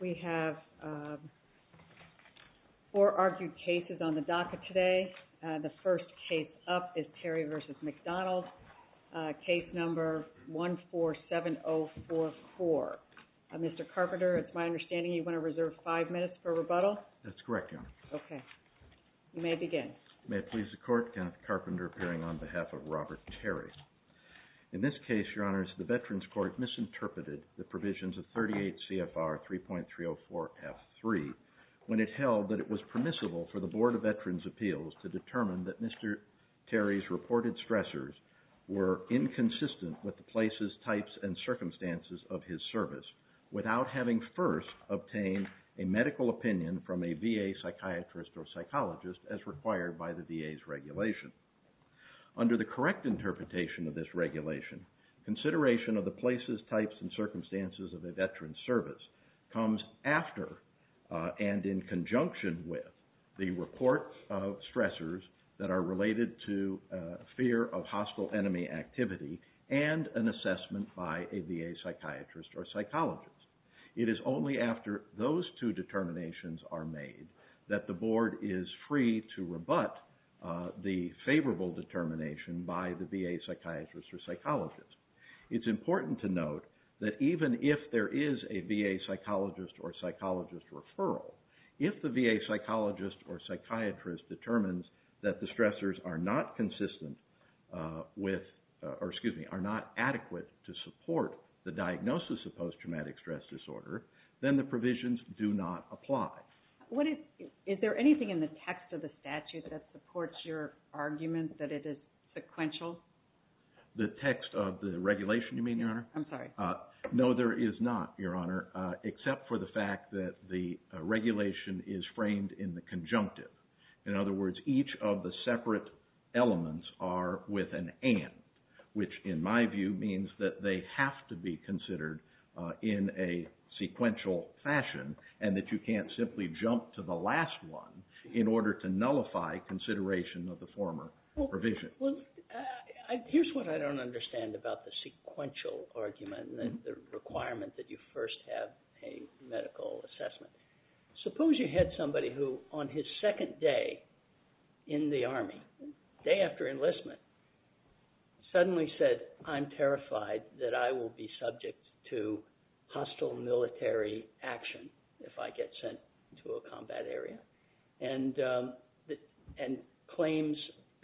We have four argued cases on the docket today. The first case up is Terry v. McDonald. Case number 147044. Mr. Carpenter, it's my understanding you want to reserve five minutes for rebuttal? That's correct, Your Honor. Okay. You may begin. May it please the Court, Kenneth Carpenter appearing on behalf of Robert Terry. In this case, Your Honors, the Veterans Court misinterpreted the provisions of 38 CFR 3.304F3 when it held that it was permissible for the Board of Veterans' Appeals to determine that Mr. Terry's reported stressors were inconsistent with the places, types, and circumstances of his service, without having first obtained a medical opinion from a VA psychiatrist or psychologist as required by law. Under the correct interpretation of this regulation, consideration of the places, types, and circumstances of a veteran's service comes after and in conjunction with the report of stressors that are related to fear of hostile enemy activity and an assessment by a VA psychiatrist or psychologist. It is only after those two determinations are made that the Board is free to rebut the favorable determination by the VA psychiatrist or psychologist. It's important to note that even if there is a VA psychologist or psychologist referral, if the VA psychologist or psychiatrist determines that the stressors are not adequate to support the diagnosis of post-traumatic stress disorder, then the provisions do not apply. Is there anything in the text of the statute that supports your argument that it is sequential? The text of the regulation, you mean, Your Honor? I'm sorry. No, there is not, Your Honor, except for the fact that the regulation is framed in the conjunctive. In other words, each of the separate elements are with an and, which in my view means that they have to be considered in a sequential fashion and that you can't simply jump to the last one in order to nullify consideration of the former provision. Well, here's what I don't understand about the sequential argument and the requirement that you first have a medical assessment. Suppose you had somebody who on his second day in the Army, the day after enlistment, suddenly said, I'm terrified that I will be subject to hostile military action if I get sent to a combat area and claims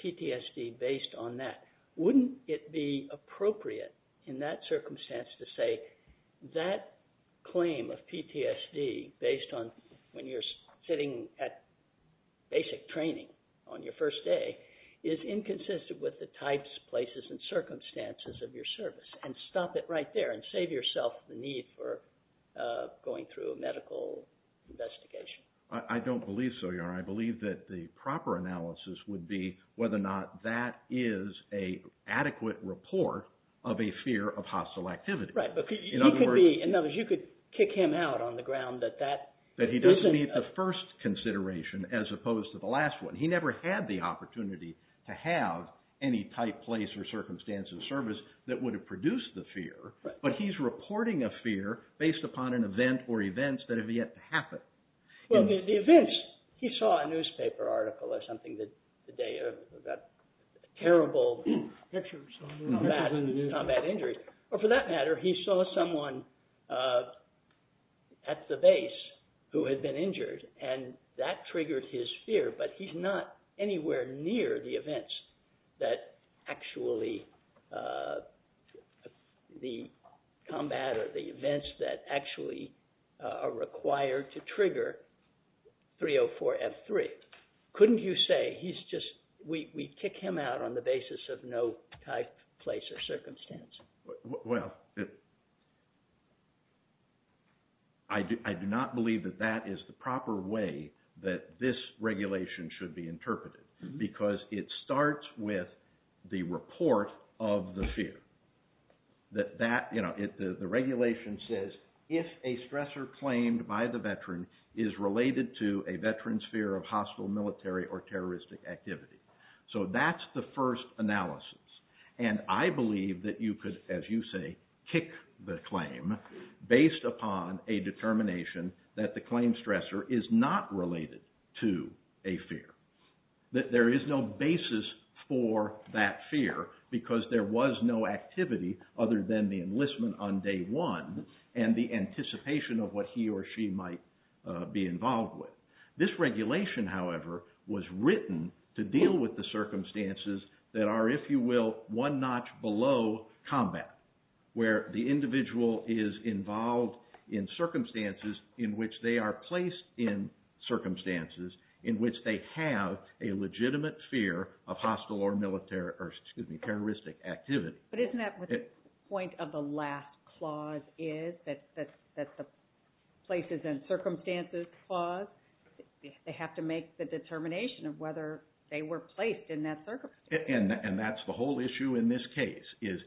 PTSD based on that. Wouldn't it be appropriate in that circumstance to say that claim of PTSD based on when you're sitting at basic training on your first day is inconsistent with the types, places, and circumstances of your service and stop it right there and save yourself the need for going through a medical investigation? I don't believe so, Your Honor. I believe that the proper analysis would be whether or not that is an adequate report of a fear of hostile activity. In other words, you could kick him out on the ground that that isn't… That he doesn't need the first consideration as opposed to the last one. He never had the opportunity to have any type, place, or circumstance of service that would have produced the fear. But he's reporting a fear based upon an event or events that have yet to happen. Well, the events, he saw a newspaper article or something the day of that terrible combat injury. Well, I do not believe that that is the proper way that this regulation should be interpreted because it starts with the report of the fear. The regulation says if a stressor claimed by the veteran is related to a veteran's fear of hostile military or terroristic activity. So that's the first analysis. And I believe that you could, as you say, kick the claim based upon a determination that the claim stressor is not related to a fear. That there is no basis for that fear because there was no activity other than the enlistment on day one and the anticipation of what he or she might be involved with. This regulation, however, was written to deal with the circumstances that are, if you will, one notch below combat where the individual is involved in circumstances in which they are placed in circumstances in which they have a legitimate fear of hostile or terroristic activity. But isn't that what the point of the last clause is, that the places and circumstances clause? They have to make the determination of whether they were placed in that circumstance. And that's the whole issue in this case is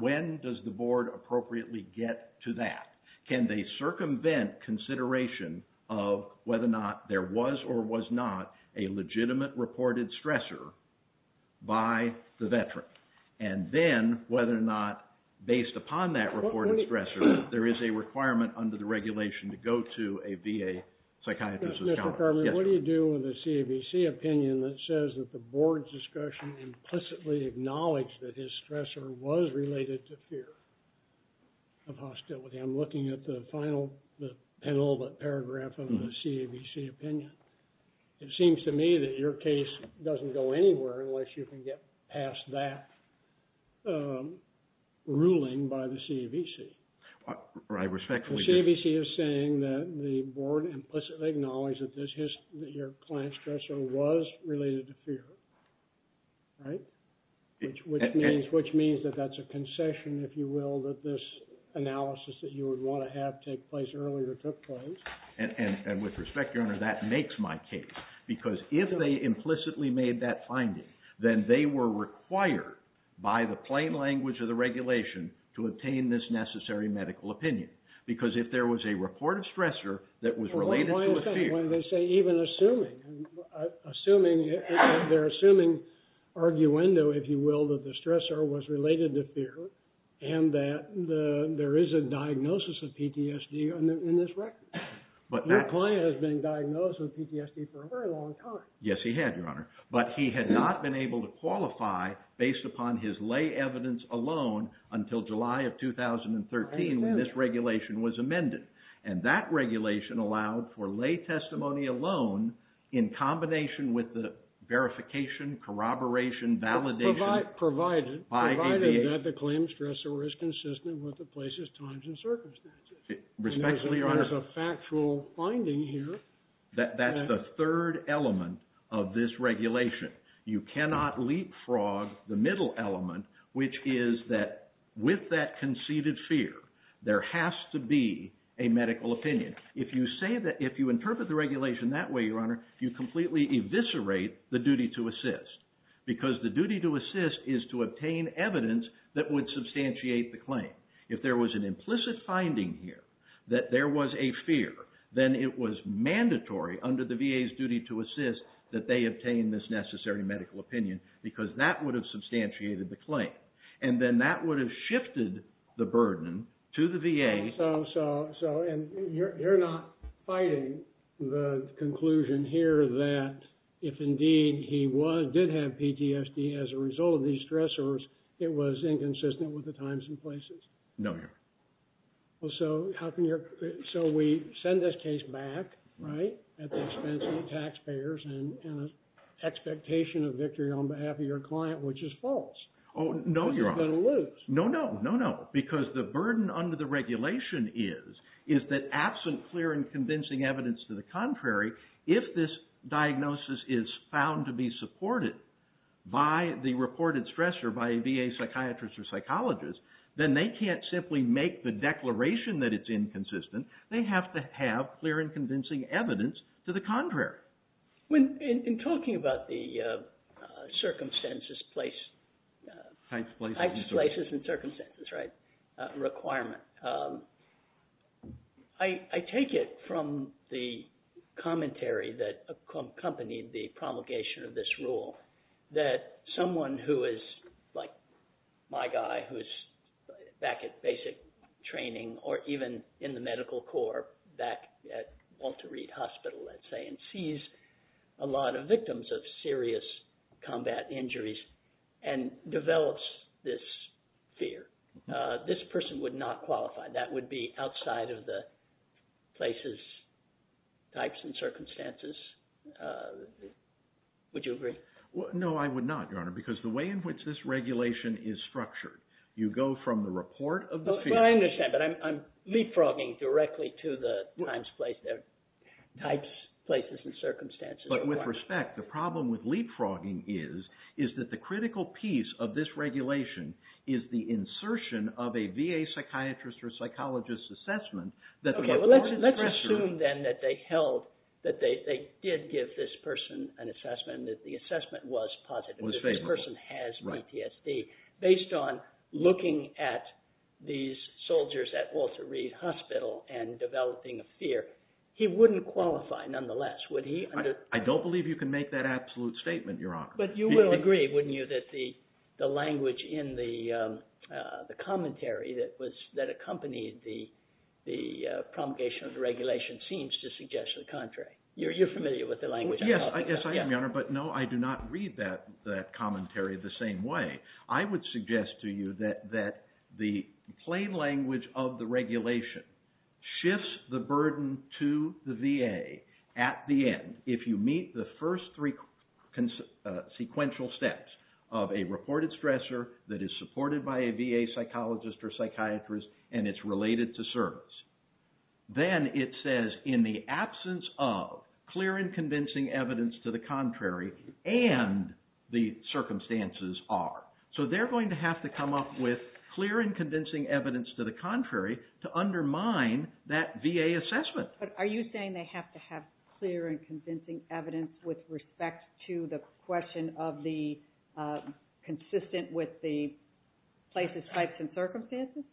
when does the board appropriately get to that? Can they circumvent consideration of whether or not there was or was not a legitimate reported stressor by the veteran? And then whether or not based upon that reported stressor, there is a requirement under the regulation to go to a VA psychiatrist or psychologist. What do you do in the CAVC opinion that says that the board's discussion implicitly acknowledged that his stressor was related to fear of hostility? I'm looking at the final paragraph of the CAVC opinion. It seems to me that your case doesn't go anywhere unless you can get past that ruling by the CAVC. The CAVC is saying that the board implicitly acknowledged that your client's stressor was related to fear, right? Which means that that's a concession, if you will, that this analysis that you would want to have take place earlier took place. And with respect, Your Honor, that makes my case. Because if they implicitly made that finding, then they were required by the plain language of the regulation to obtain this necessary medical opinion. Because if there was a reported stressor that was related to a fear... Your client has been diagnosed with PTSD for a very long time. Yes, he had, Your Honor. But he had not been able to qualify based upon his lay evidence alone until July of 2013 when this regulation was amended. And that regulation allowed for lay testimony alone in combination with the verification, corroboration, validation... Provided that the claim stressor is consistent with the place's times and circumstances. Respectfully, Your Honor... There's a factual finding here. That's the third element of this regulation. You cannot leapfrog the middle element, which is that with that conceded fear, there has to be a medical opinion. If you interpret the regulation that way, Your Honor, you completely eviscerate the duty to assist. Because the duty to assist is to obtain evidence that would substantiate the claim. If there was an implicit finding here that there was a fear, then it was mandatory under the VA's duty to assist that they obtain this necessary medical opinion. Because that would have substantiated the claim. And then that would have shifted the burden to the VA... You're not fighting the conclusion here that if indeed he did have PTSD as a result of these stressors, it was inconsistent with the times and places? No, Your Honor. So we send this case back, right, at the expense of the taxpayers and an expectation of victory on behalf of your client, which is false. No, Your Honor. You're going to lose. No, no, no, no, because the burden under the regulation is that absent clear and convincing evidence to the contrary, if this diagnosis is found to be supported by the reported stressor, by a VA psychiatrist or psychologist, then they can't simply make the declaration that it's inconsistent. They have to have clear and convincing evidence to the contrary. In talking about the circumstances, heights, places, and circumstances requirement, I take it from the commentary that accompanied the promulgation of this rule that someone who is like my guy who is back at basic training or even in the medical corps back at Walter Reed Hospital, let's say, and sees a lot of victims of serious combat injuries and develops this fear. This person would not qualify. That would be outside of the places, types, and circumstances. Would you agree? No, I would not, Your Honor, because the way in which this regulation is structured, you go from the report of the fear... I understand, but I'm leapfrogging directly to the types, places, and circumstances. But with respect, the problem with leapfrogging is that the critical piece of this regulation is the insertion of a VA psychiatrist or psychologist assessment... Okay, well let's assume then that they held, that they did give this person an assessment, that the assessment was positive, that this person has PTSD. Based on looking at these soldiers at Walter Reed Hospital and developing a fear, he wouldn't qualify nonetheless. I don't believe you can make that absolute statement, Your Honor. But you will agree, wouldn't you, that the language in the commentary that accompanied the promulgation of the regulation seems to suggest the contrary. You're familiar with the language. Yes, I am, Your Honor, but no, I do not read that commentary the same way. I would suggest to you that the plain language of the regulation shifts the burden to the VA at the end. If you meet the first three sequential steps of a reported stressor that is supported by a VA psychologist or psychiatrist and it's related to service, then it says in the absence of clear and convincing evidence to the contrary and the circumstances are. So they're going to have to come up with clear and convincing evidence to the contrary to undermine that VA assessment. But are you saying they have to have clear and convincing evidence with respect to the question of the consistent with the places, types, and circumstances?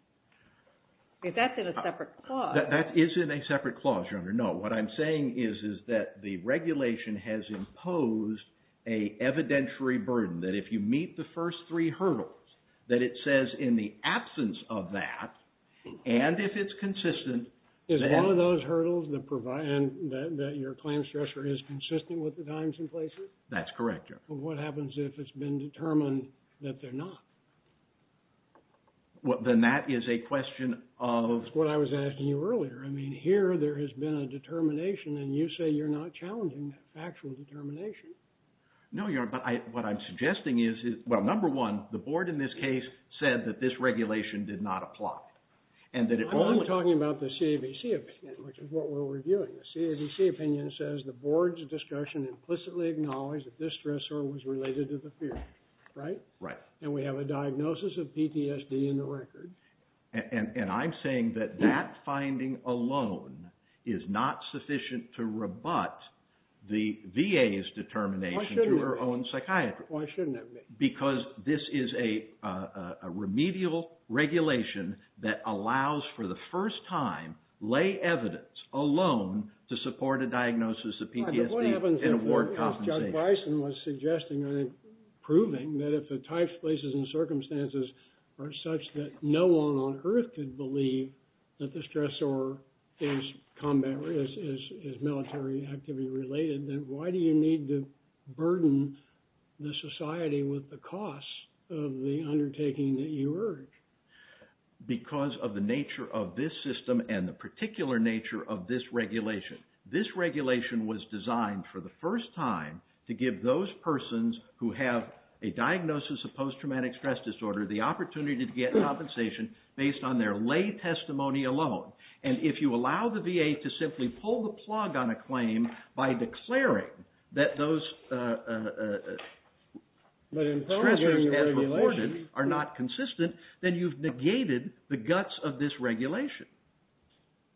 That's in a separate clause. That is in a separate clause, Your Honor, no. What I'm saying is that the regulation has imposed an evidentiary burden that if you meet the first three hurdles that it says in the absence of that and if it's consistent. Is one of those hurdles that your claim stressor is consistent with the times and places? That's correct, Your Honor. What happens if it's been determined that they're not? Then that is a question of... That's what I was asking you earlier. I mean, here there has been a determination and you say you're not challenging that factual determination. No, Your Honor, but what I'm suggesting is, well, number one, the board in this case said that this regulation did not apply and that it only... I'm only talking about the CAVC opinion, which is what we're reviewing. The CAVC opinion says the board's discussion implicitly acknowledged that this stressor was related to the fear. Right? And we have a diagnosis of PTSD in the record. And I'm saying that that finding alone is not sufficient to rebut the VA's determination to their own psychiatry. Why shouldn't it be? Because this is a remedial regulation that allows for the first time lay evidence alone to support a diagnosis of PTSD and award compensation. Dr. Tyson was suggesting, I think, proving that if the types, places, and circumstances are such that no one on earth could believe that the stressor is military activity related, then why do you need to burden the society with the costs of the undertaking that you urge? Because of the nature of this system and the particular nature of this regulation. This regulation was designed for the first time to give those persons who have a diagnosis of post-traumatic stress disorder the opportunity to get compensation based on their lay testimony alone. And if you allow the VA to simply pull the plug on a claim by declaring that those stressors as reported are not consistent, then you've negated the guts of this regulation.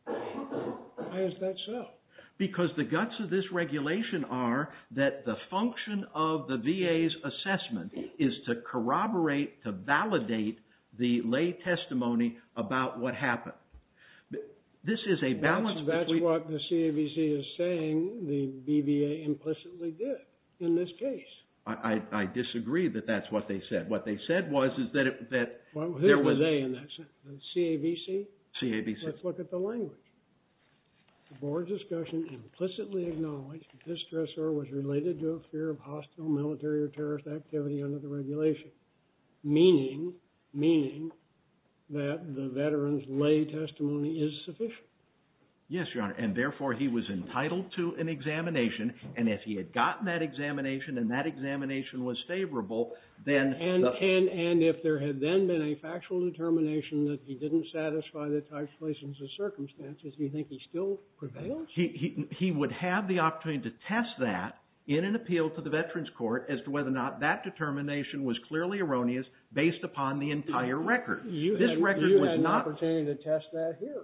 Why is that so? Because the guts of this regulation are that the function of the VA's assessment is to corroborate, to validate the lay testimony about what happened. That's what the CAVC is saying the BVA implicitly did in this case. I disagree that that's what they said. Well, who are they in that sense? The CAVC? CAVC. Let's look at the language. The board's discussion implicitly acknowledged that this stressor was related to a fear of hostile military or terrorist activity under the regulation, meaning that the veteran's lay testimony is sufficient. Yes, Your Honor, and therefore he was entitled to an examination. And if he had gotten that examination and that examination was favorable, then... And if there had then been a factual determination that he didn't satisfy the types, places, and circumstances, do you think he still prevails? He would have the opportunity to test that in an appeal to the Veterans Court as to whether or not that determination was clearly erroneous based upon the entire record. You had an opportunity to test that here.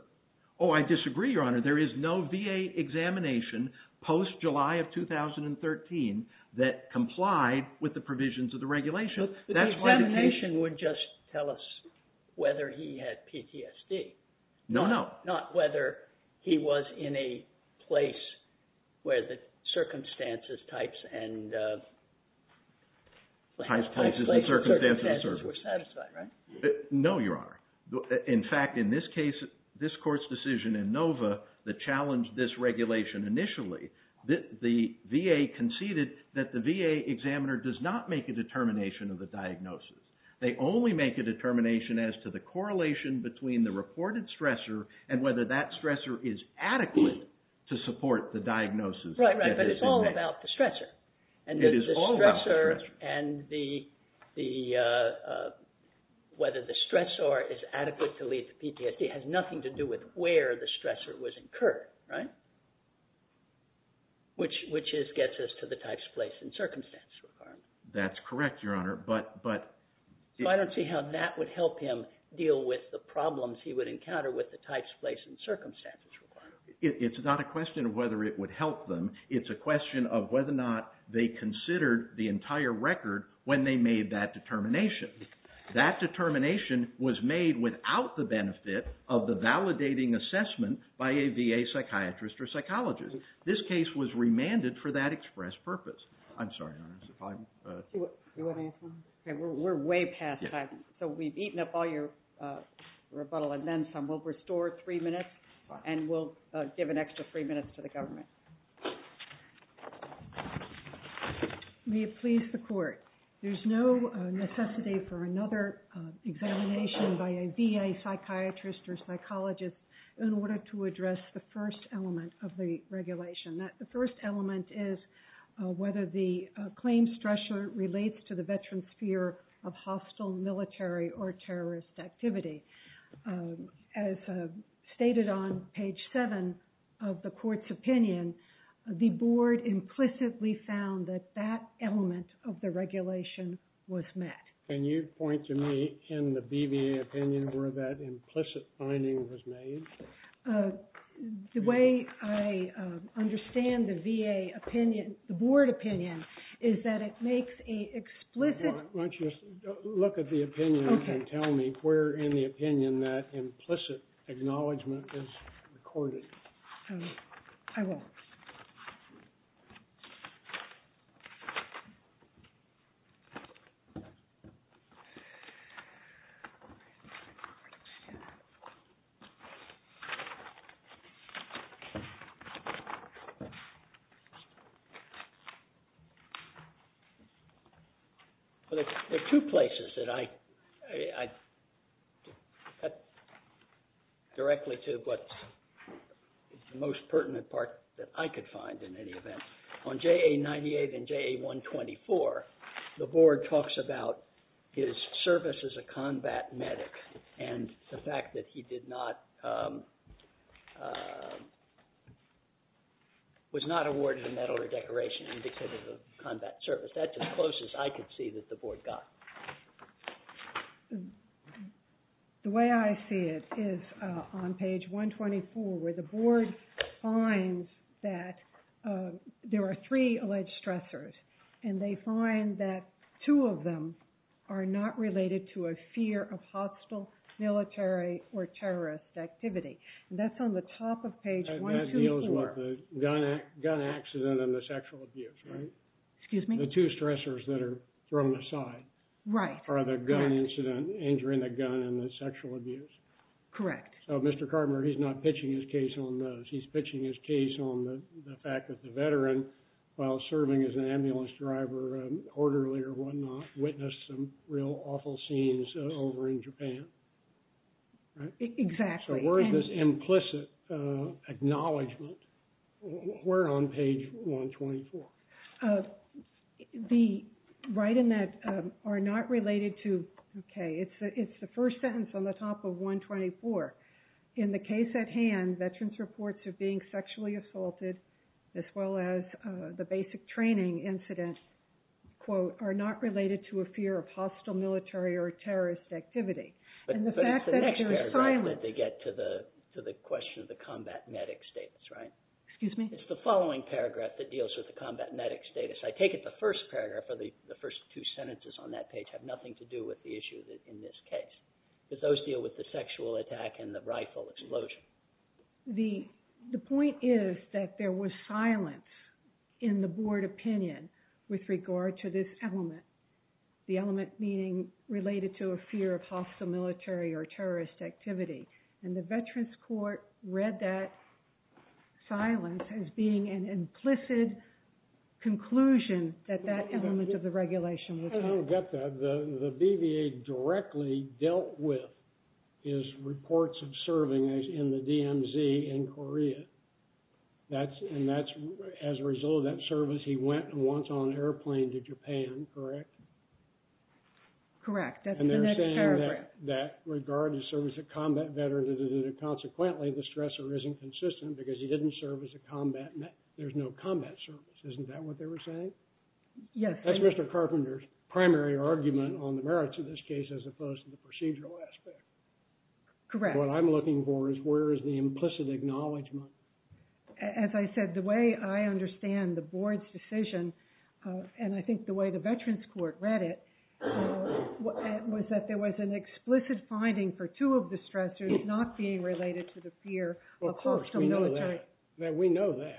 Oh, I disagree, Your Honor. There is no VA examination post-July of 2013 that complied with the provisions of the regulation. The examination would just tell us whether he had PTSD. No, no. Not whether he was in a place where the circumstances, types, and places, circumstances were satisfied, right? No, Your Honor. In fact, in this case, this Court's decision in Nova that challenged this regulation initially, the VA conceded that the VA examiner does not make a determination of the diagnosis. They only make a determination as to the correlation between the reported stressor and whether that stressor is adequate to support the diagnosis. Right, right. But it's all about the stressor. It is all about the stressor. And whether the stressor is adequate to lead to PTSD has nothing to do with where the stressor was incurred, right? Which gets us to the types, place, and circumstances requirement. That's correct, Your Honor. So I don't see how that would help him deal with the problems he would encounter with the types, place, and circumstances requirement. It's not a question of whether it would help them. It's a question of whether or not they considered the entire record when they made that determination. That determination was made without the benefit of the validating assessment by a VA psychiatrist or psychologist. This case was remanded for that express purpose. I'm sorry, Your Honor. We're way past time. So we've eaten up all your rebuttal and then some. We'll restore three minutes and we'll give an extra three minutes to the government. May it please the court. There's no necessity for another examination by a VA psychiatrist or psychologist in order to address the first element of the regulation. The first element is whether the claim stressor relates to the veteran's fear of hostile military or terrorist activity. As stated on page seven of the court's opinion, the board implicitly found that that element of the regulation was met. Can you point to me in the BVA opinion where that implicit finding was made? The way I understand the VA opinion, the board opinion, is that it makes an explicit... Why don't you look at the opinion and tell me where in the opinion that implicit acknowledgment is recorded. I will. Okay. On JA 98 and JA 124, the board talks about his service as a combat medic and the fact that he was not awarded a medal or decoration indicative of combat service. That's as close as I could see that the board got. The way I see it is on page 124 where the board finds that there are three alleged stressors, and they find that two of them are not related to a fear of hostile military or terrorist activity. That's on the top of page 124. That deals with the gun accident and the sexual abuse, right? Excuse me? The two stressors that are thrown aside are the gun incident, injuring the gun, and the sexual abuse. Correct. So Mr. Carver, he's not pitching his case on those. He's pitching his case on the fact that the veteran, while serving as an ambulance driver, orderly or whatnot, witnessed some real awful scenes over in Japan. Exactly. So where is this implicit acknowledgment? Where on page 124? The right and left are not related to, okay, it's the first sentence on the top of 124. In the case at hand, veterans' reports of being sexually assaulted as well as the basic training incident, quote, are not related to a fear of hostile military or terrorist activity. But it's the next paragraph that they get to the question of the combat medic status, right? Excuse me? It's the following paragraph that deals with the combat medic status. I take it the first paragraph or the first two sentences on that page have nothing to do with the issue in this case. Because those deal with the sexual attack and the rifle explosion. The point is that there was silence in the board opinion with regard to this element. The element meaning related to a fear of hostile military or terrorist activity. And the veterans' court read that silence as being an implicit conclusion that that element of the regulation was false. I don't get that. The BVA directly dealt with his reports of serving in the DMZ in Korea. And that's as a result of that service, he went once on an airplane to Japan, correct? Correct. And they're saying that regard to service of combat veterans, that consequently the stressor isn't consistent because he didn't serve as a combat medic. There's no combat service. Isn't that what they were saying? Yes. That's Mr. Carpenter's primary argument on the merits of this case as opposed to the procedural aspect. Correct. What I'm looking for is where is the implicit acknowledgment. As I said, the way I understand the board's decision, and I think the way the veterans' court read it, was that there was an explicit finding for two of the stressors not being related to the fear of hostile military. Of course, we know that. We know that.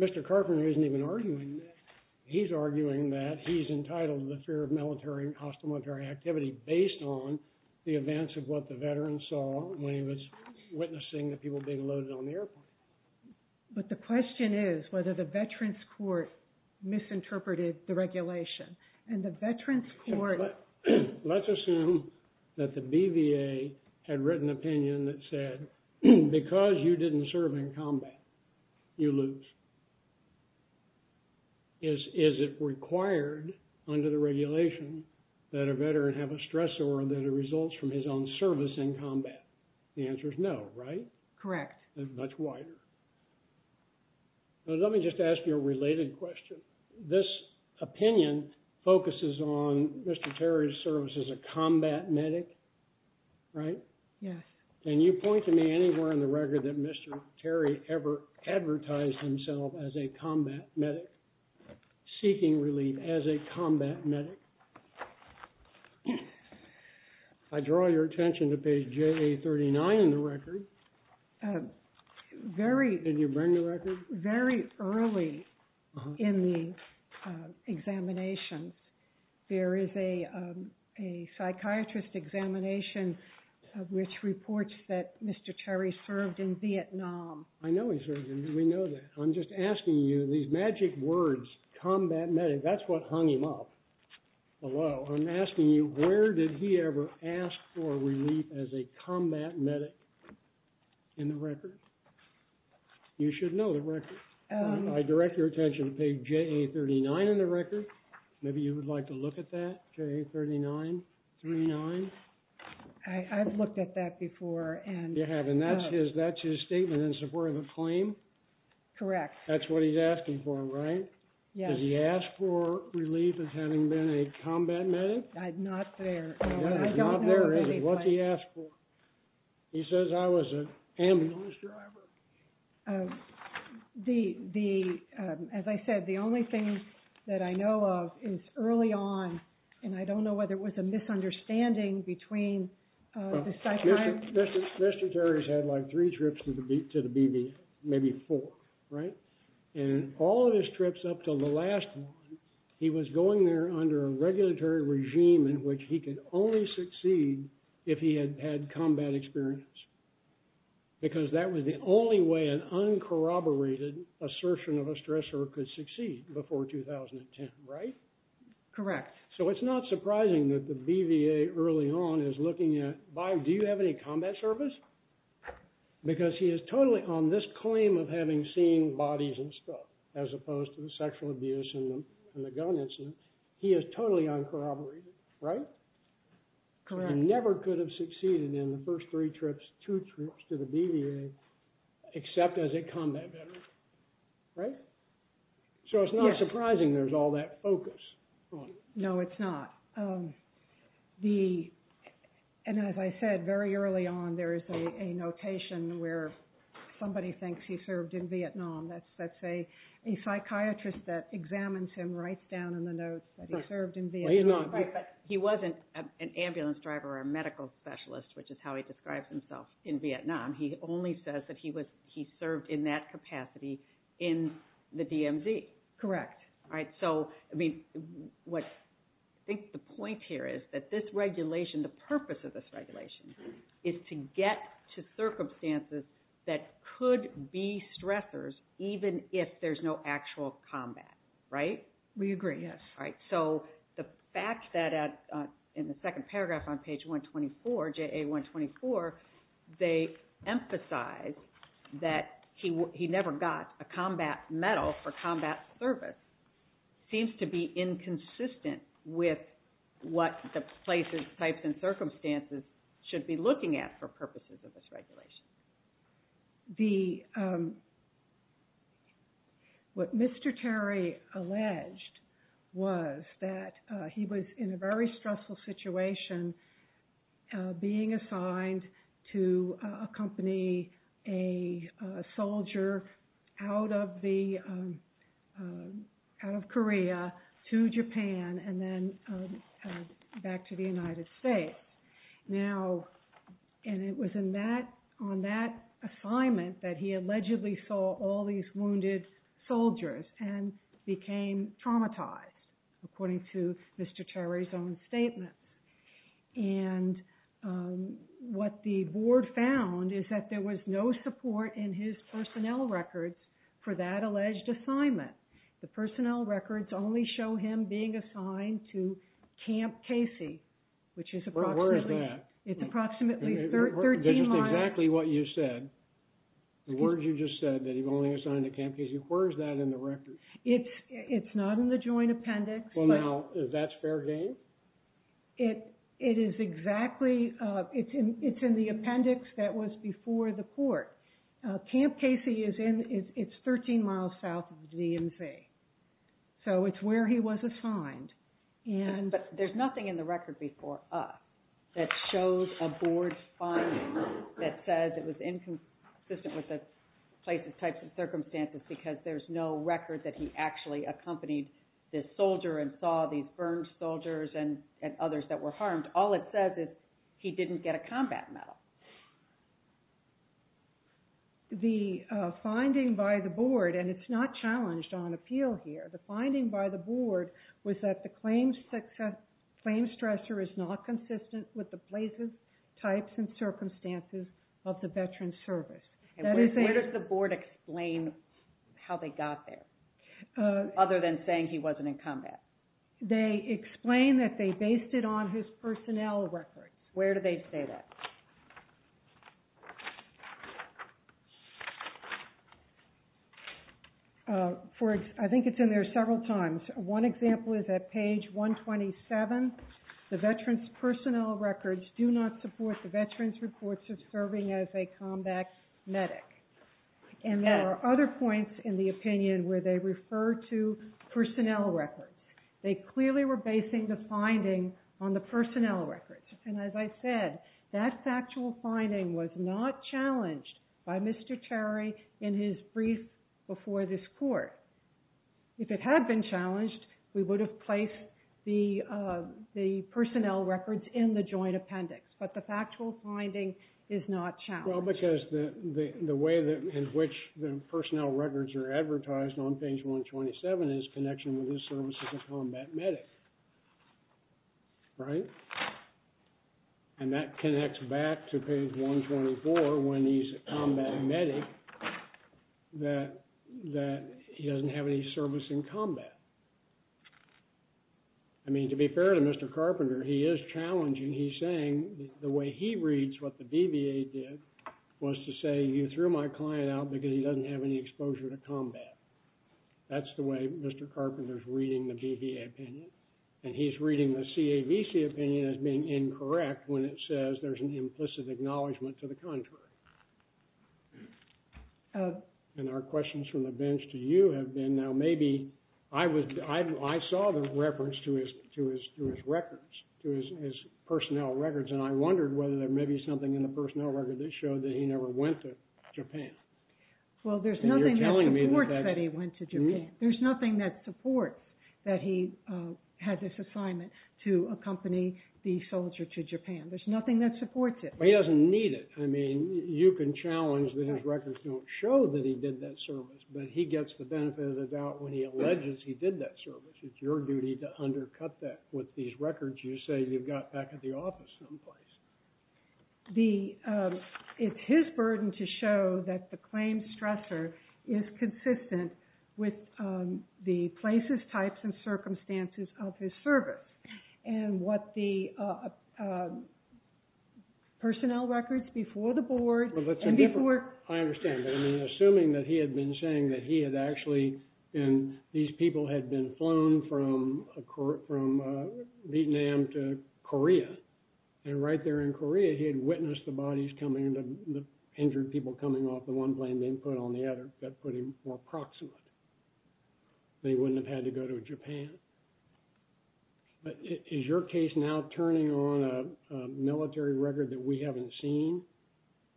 Mr. Carpenter isn't even arguing that. He's arguing that he's entitled to the fear of military and hostile military activity based on the events of what the veterans saw when he was witnessing the people being loaded on the airplane. But the question is whether the veterans' court misinterpreted the regulation. And the veterans' court... Let's assume that the BVA had written an opinion that said, because you didn't serve in combat, you lose. Is it required under the regulation that a veteran have a stressor that results from his own service in combat? The answer is no, right? Correct. It's much wider. Let me just ask you a related question. This opinion focuses on Mr. Terry's service as a combat medic, right? Yes. Can you point to me anywhere in the record that Mr. Terry ever advertised himself as a combat medic, seeking relief as a combat medic? I draw your attention to page JA39 in the record. Can you bring the record? Very early in the examinations, there is a psychiatrist examination which reports that Mr. Terry served in Vietnam. I know he served in Vietnam. We know that. I'm just asking you these magic words, combat medic. That's what hung him up below. I'm asking you where did he ever ask for relief as a combat medic in the record? You should know the record. I direct your attention to page JA39 in the record. Maybe you would like to look at that, JA39? I've looked at that before. You have, and that's his statement in support of the claim? Correct. That's what he's asking for, right? Yes. Does he ask for relief as having been a combat medic? Not there. Not there, is he? What's he ask for? He says I was an ambulance driver. As I said, the only thing that I know of is early on, and I don't know whether it was a misunderstanding between the psychiatrist. Mr. Terry's had like three trips to the BB, maybe four, right? And all of his trips up until the last one, he was going there under a regulatory regime in which he could only succeed if he had had combat experience, because that was the only way an uncorroborated assertion of a stressor could succeed before 2010, right? Correct. So it's not surprising that the BVA early on is looking at, do you have any combat service? Because he is totally on this claim of having seen bodies and stuff, as opposed to the sexual abuse and the gun incident. He is totally uncorroborated, right? Correct. He never could have succeeded in the first three trips, two trips to the BVA, except as a combat veteran, right? So it's not surprising there's all that focus. No, it's not. And as I said, very early on, there is a notation where somebody thinks he served in Vietnam. That's a psychiatrist that examines him, writes down in the notes that he served in Vietnam. Right, but he wasn't an ambulance driver or a medical specialist, which is how he describes himself in Vietnam. He only says that he served in that capacity in the DMZ. Correct. All right, so I think the point here is that this regulation, the purpose of this regulation is to get to circumstances that could be stressors even if there's no actual combat, right? We agree, yes. All right, so the fact that in the second paragraph on page 124, JA124, they emphasize that he never got a combat medal for combat service seems to be inconsistent with what the places, types, and circumstances should be looking at for purposes of this regulation. What Mr. Terry alleged was that he was in a very stressful situation being assigned to accompany a soldier out of Korea to Japan and then back to the United States. And it was on that assignment that he allegedly saw all these wounded soldiers and became traumatized, according to Mr. Terry's own statement. And what the board found is that there was no support in his personnel records for that alleged assignment. The personnel records only show him being assigned to Camp Casey, which is approximately... Where is that? It's approximately 13 miles... This is exactly what you said. The words you just said, that he was only assigned to Camp Casey. Where is that in the records? It's not in the joint appendix. Well, now, that's fair game? It is exactly... It's in the appendix that was before the court. Camp Casey is 13 miles south of the DMZ. So it's where he was assigned. But there's nothing in the record before us that shows a board finding that says it was inconsistent with the place's types of circumstances because there's no record that he actually accompanied this soldier and saw these burned soldiers and others that were harmed. All it says is he didn't get a combat medal. The finding by the board, and it's not challenged on appeal here, but the finding by the board was that the claims stressor is not consistent with the places, types, and circumstances of the veteran's service. Where does the board explain how they got there other than saying he wasn't in combat? They explain that they based it on his personnel records. Where do they say that? I think it's in there several times. One example is at page 127. The veteran's personnel records do not support the veteran's reports of serving as a combat medic. And there are other points in the opinion where they refer to personnel records. They clearly were basing the finding on the personnel records. And as I said, that factual finding was not challenged by Mr. Terry in his brief before this court. If it had been challenged, we would have placed the personnel records in the joint appendix. But the factual finding is not challenged. Well, because the way in which the personnel records are advertised on page 127 is connection with his service as a combat medic. Right? And that connects back to page 124 when he's a combat medic that he doesn't have any service in combat. I mean, to be fair to Mr. Carpenter, he is challenging. He's saying the way he reads what the BVA did was to say, you threw my client out because he doesn't have any exposure to combat. That's the way Mr. Carpenter is reading the BVA opinion. And he's reading the CAVC opinion as being incorrect when it says there's an implicit acknowledgment to the contrary. And our questions from the bench to you have been, now maybe, I saw the reference to his records, to his personnel records, and I wondered whether there may be something in the personnel record that showed that he never went to Japan. Well, there's nothing that supports that he went to Japan. There's nothing that supports that he had this assignment to accompany the soldier to Japan. There's nothing that supports it. But he doesn't need it. I mean, you can challenge that his records don't show that he did that service, but he gets the benefit of the doubt when he alleges he did that service. It's your duty to undercut that with these records you say you've got back at the office someplace. It's his burden to show that the claims stressor is consistent with the places, types, and circumstances of his service and what the personnel records before the board and before. I understand. But I mean, assuming that he had been saying that he had actually been, these people had been flown from Vietnam to Korea and right there in Korea he had witnessed the bodies coming and the injured people coming off the one plane they put on the other that put him more proximate. They wouldn't have had to go to Japan. But is your case now turning on a military record that we haven't seen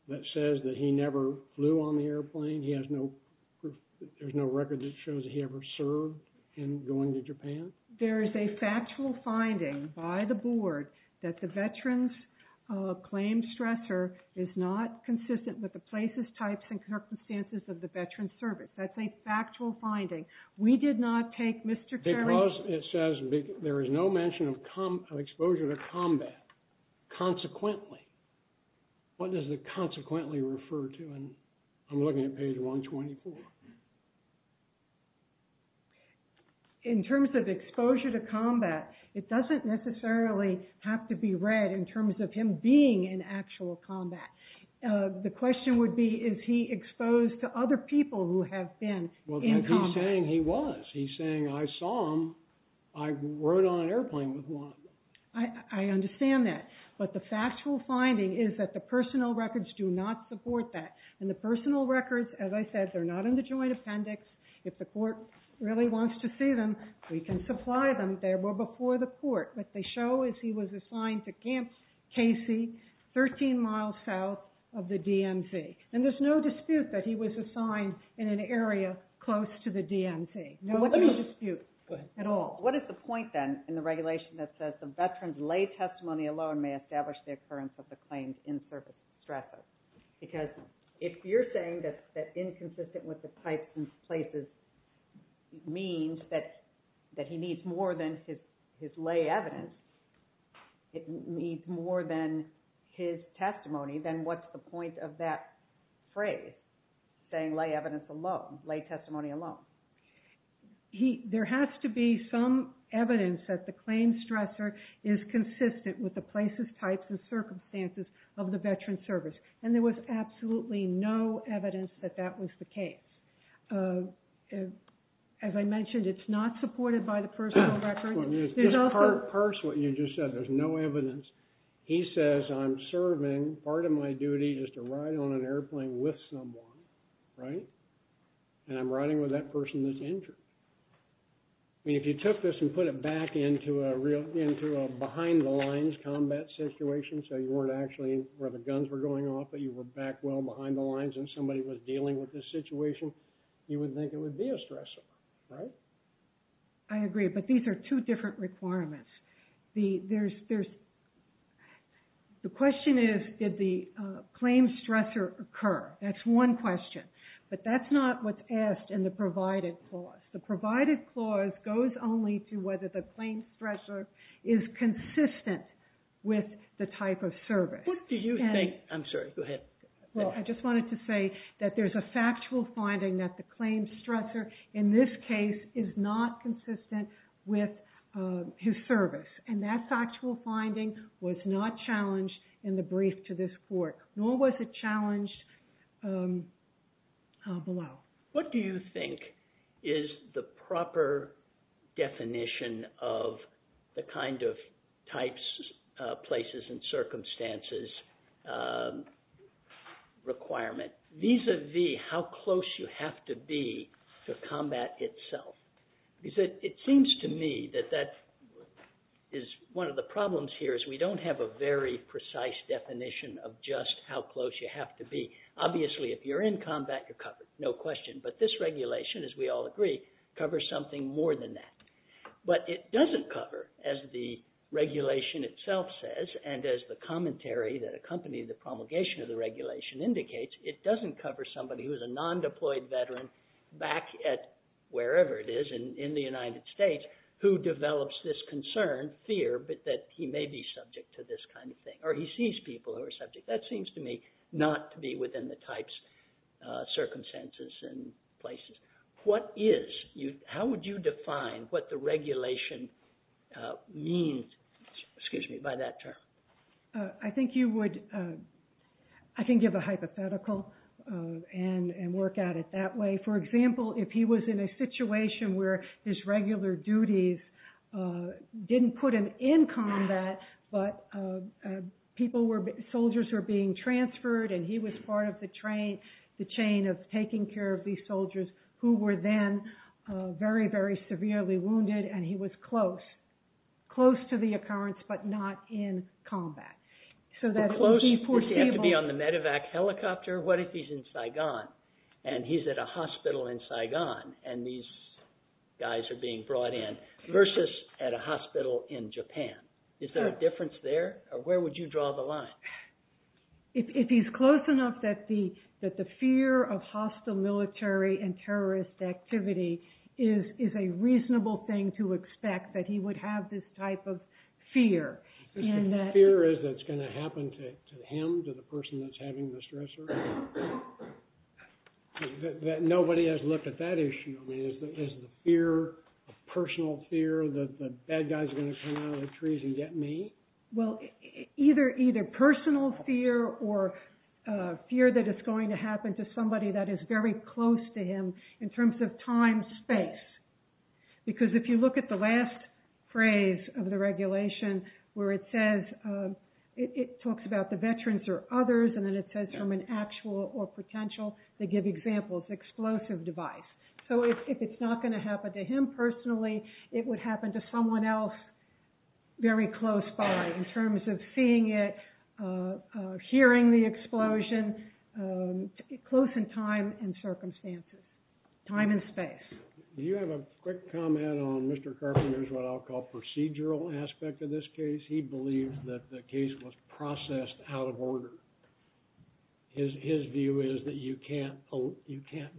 that says that he never flew on the airplane? There's no record that shows he ever served in going to Japan? There is a factual finding by the board that the veterans claims stressor is not consistent with the places, types, and circumstances of the veteran's service. That's a factual finding. We did not take Mr. Carey. Because it says there is no mention of exposure to combat. Consequently. What does the consequently refer to? I'm looking at page 124. In terms of exposure to combat, it doesn't necessarily have to be read in terms of him being in actual combat. The question would be, is he exposed to other people who have been in combat? He's saying he was. He's saying I saw him, I rode on an airplane with one. I understand that. But the factual finding is that the personal records do not support that. And the personal records, as I said, they're not in the joint appendix. If the court really wants to see them, we can supply them. They were before the court. What they show is he was assigned to Camp Casey, 13 miles south of the DMZ. And there's no dispute that he was assigned in an area close to the DMZ. No dispute at all. What is the point, then, in the regulation that says the veteran's lay testimony alone may establish the occurrence of the claims in service stressor? Because if you're saying that inconsistent with the types and places means that he needs more than his lay evidence, it means more than his testimony, then what's the point of that phrase, saying lay evidence alone, lay testimony alone? There has to be some evidence that the claims stressor is consistent with the places, types, and circumstances of the veteran's service. And there was absolutely no evidence that that was the case. As I mentioned, it's not supported by the personal record. Just parse what you just said. There's no evidence. He says, I'm serving part of my duty just to ride on an airplane with someone, right? And I'm riding with that person that's injured. I mean, if you took this and put it back into a behind-the-lines combat situation, so you weren't actually where the guns were going off, but you were back well behind the lines and somebody was dealing with this situation, you would think it would be a stressor, right? I agree, but these are two different requirements. The question is, did the claims stressor occur? That's one question. But that's not what's asked in the provided clause. The provided clause goes only to whether the claims stressor is consistent with the type of service. What do you think? I'm sorry. Go ahead. I just wanted to say that there's a factual finding that the claims stressor in this case is not consistent with his service. And that factual finding was not challenged in the brief to this court, nor was it challenged below. What do you think is the proper definition of the kind of types, places, and circumstances requirement, vis-à-vis how close you have to be to combat itself? Because it seems to me that that is one of the problems here is we don't have a very precise definition of just how close you have to be. Obviously, if you're in combat, you're covered. No question. But this regulation, as we all agree, covers something more than that. But it doesn't cover, as the regulation itself says, and as the commentary that accompanied the promulgation of the regulation indicates, it doesn't cover somebody who is a non-deployed veteran back at wherever it is in the United States who develops this concern, fear, that he may be subject to this kind of thing. Or he sees people who are subject. That seems to me not to be within the types, circumstances, and places. How would you define what the regulation means by that term? I can give a hypothetical and work at it that way. For example, if he was in a situation where his regular duties didn't put him in combat, but soldiers were being transferred, and he was part of the chain of taking care of these soldiers who were then very, very severely wounded, and he was close, close to the occurrence, but not in combat. So that would be foreseeable. But close, does he have to be on the medevac helicopter? What if he's in Saigon, and he's at a hospital in Saigon, and these guys are being brought in, versus at a hospital in Japan? Is there a difference there? Or where would you draw the line? If he's close enough that the fear of hostile military and terrorist activity is a reasonable thing to expect, that he would have this type of fear. The fear is that it's going to happen to him, to the person that's having the stressor? That nobody has looked at that issue. I mean, is the fear a personal fear, that the bad guys are going to come out of the trees and get me? Well, either personal fear or fear that it's going to happen to somebody that is very close to him, in terms of time, space. Because if you look at the last phrase of the regulation, where it says, it talks about the veterans or others, and then it says from an actual or potential, to give examples, explosive device. So if it's not going to happen to him personally, it would happen to someone else very close by, in terms of seeing it, hearing the explosion, close in time and circumstances. Time and space. Do you have a quick comment on Mr. Carpenter's what I'll call procedural aspect of this case? He believes that the case was processed out of order. His view is that you can't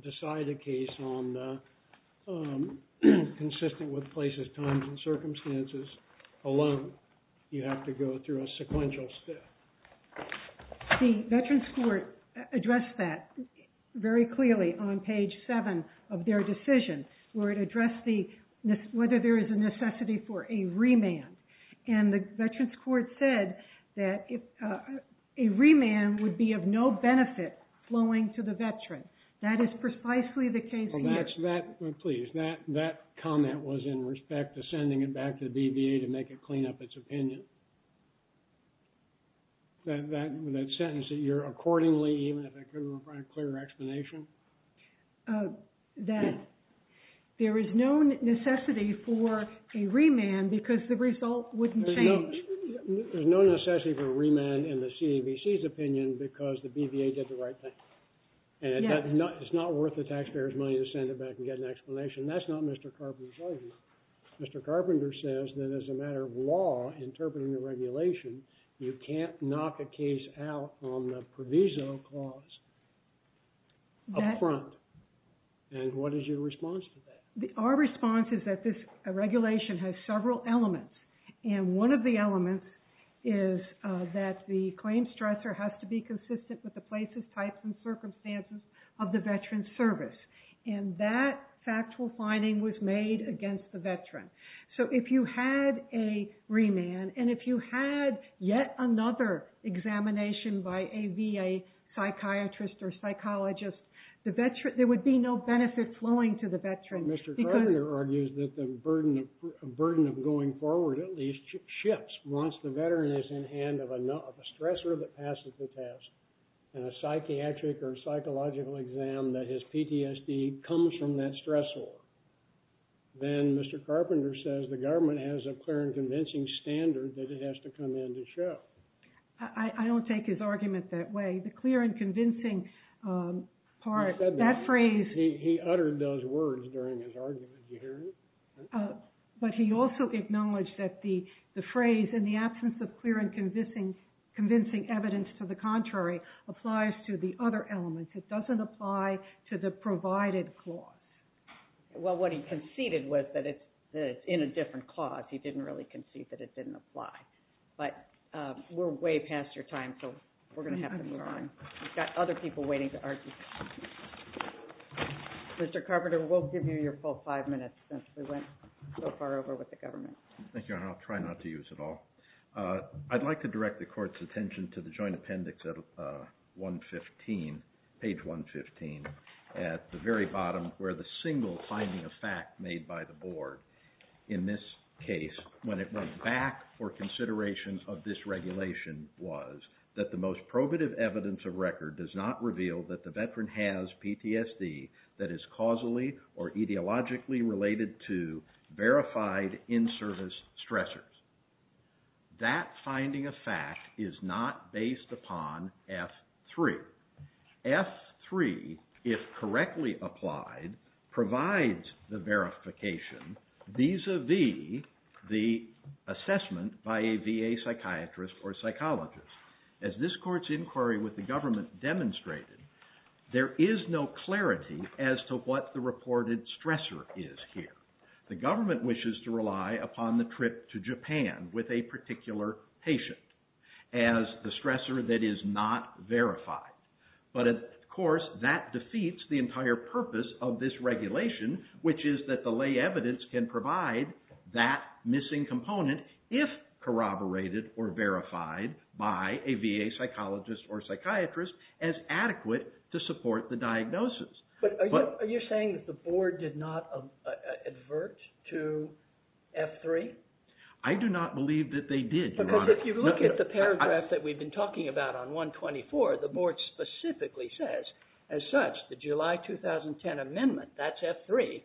decide a case consistent with places, times, and circumstances alone. You have to go through a sequential step. The Veterans Court addressed that very clearly on page 7 of their decision, where it addressed whether there is a necessity for a remand. And the Veterans Court said that a remand would be of no benefit flowing to the veteran. That is precisely the case here. Please, that comment was in respect to sending it back to the DBA to make it clean up its opinion. That sentence, that you're accordingly, even if it couldn't provide a clear explanation? That there is no necessity for a remand because the result wouldn't change. There's no necessity for a remand in the CAVC's opinion because the DBA did the right thing. And it's not worth the taxpayers' money to send it back and get an explanation. That's not Mr. Carpenter's argument. Mr. Carpenter says that as a matter of law, interpreting the regulation, you can't knock a case out on the provisional clause up front. And what is your response to that? Our response is that this regulation has several elements. And one of the elements is that the claim stressor has to be consistent with the places, types, and circumstances of the veteran's service. And that factual finding was made against the veteran. So if you had a remand, and if you had yet another examination by a VA psychiatrist or psychologist, there would be no benefit flowing to the veteran. Mr. Carpenter argues that the burden of going forward at least shifts once the veteran is in hand of a stressor that passes the test. And a psychiatric or psychological exam that his PTSD comes from that stressor. Then Mr. Carpenter says the government has a clear and convincing standard that it has to come in to show. I don't take his argument that way. The clear and convincing part, that phrase… He said that. He uttered those words during his argument. Did you hear him? But he also acknowledged that the phrase, in the absence of clear and convincing evidence to the contrary, applies to the other elements. It doesn't apply to the provided clause. Well, what he conceded was that it's in a different clause. He didn't really concede that it didn't apply. But we're way past your time, so we're going to have to move on. We've got other people waiting to argue. Mr. Carpenter, we'll give you your full five minutes since we went so far over with the government. Thank you, and I'll try not to use it all. I'd like to direct the Court's attention to the Joint Appendix at page 115, at the very bottom, where the single finding of fact made by the Board in this case, when it went back for consideration of this regulation, was that the most probative evidence of record does not reveal that the veteran has PTSD that is causally or etiologically related to verified in-service stressors. That finding of fact is not based upon F3. F3, if correctly applied, provides the verification, vis-a-vis the assessment by a VA psychiatrist or psychologist. As this Court's inquiry with the government demonstrated, there is no clarity as to what the reported stressor is here. The government wishes to rely upon the trip to Japan with a particular patient as the stressor that is not verified. But, of course, that defeats the entire purpose of this regulation, which is that the lay evidence can provide that missing component if corroborated or verified by a VA psychologist or psychiatrist as adequate to support the diagnosis. But are you saying that the Board did not advert to F3? I do not believe that they did, Your Honor. Because if you look at the paragraph that we've been talking about on 124, the Board specifically says, as such, the July 2010 amendment, that's F3,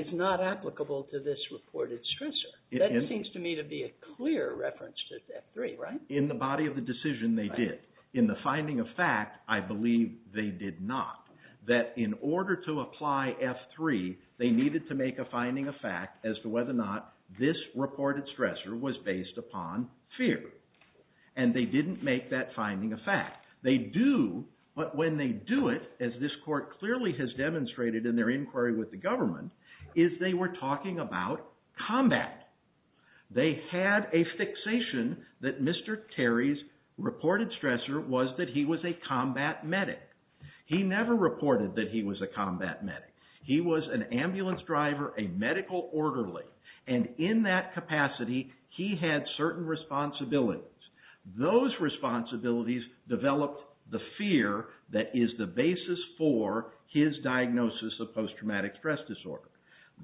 is not applicable to this reported stressor. That seems to me to be a clear reference to F3, right? In the body of the decision, they did. In the finding of fact, I believe they did not. That in order to apply F3, they needed to make a finding of fact as to whether or not this reported stressor was based upon fear. And they didn't make that finding a fact. They do, but when they do it, as this Court clearly has demonstrated in their inquiry with the government, is they were talking about combat. They had a fixation that Mr. Terry's reported stressor was that he was a combat medic. He never reported that he was a combat medic. He was an ambulance driver, a medical orderly. And in that capacity, he had certain responsibilities. Those responsibilities developed the fear that is the basis for his diagnosis of post-traumatic stress disorder.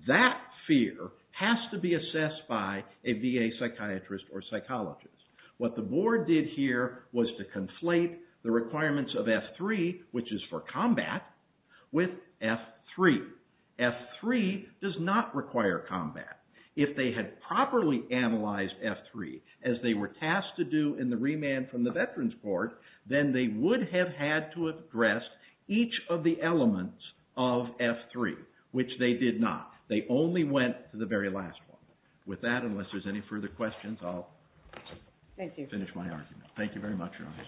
That fear has to be assessed by a VA psychiatrist or psychologist. What the Board did here was to conflate the requirements of F3, which is for combat, with F3. F3 does not require combat. If they had properly analyzed F3, as they were tasked to do in the remand from the Veterans Board, then they would have had to address each of the elements of F3, which they did not. They only went to the very last one. With that, unless there's any further questions, I'll finish my argument. Thank you very much, Your Honor.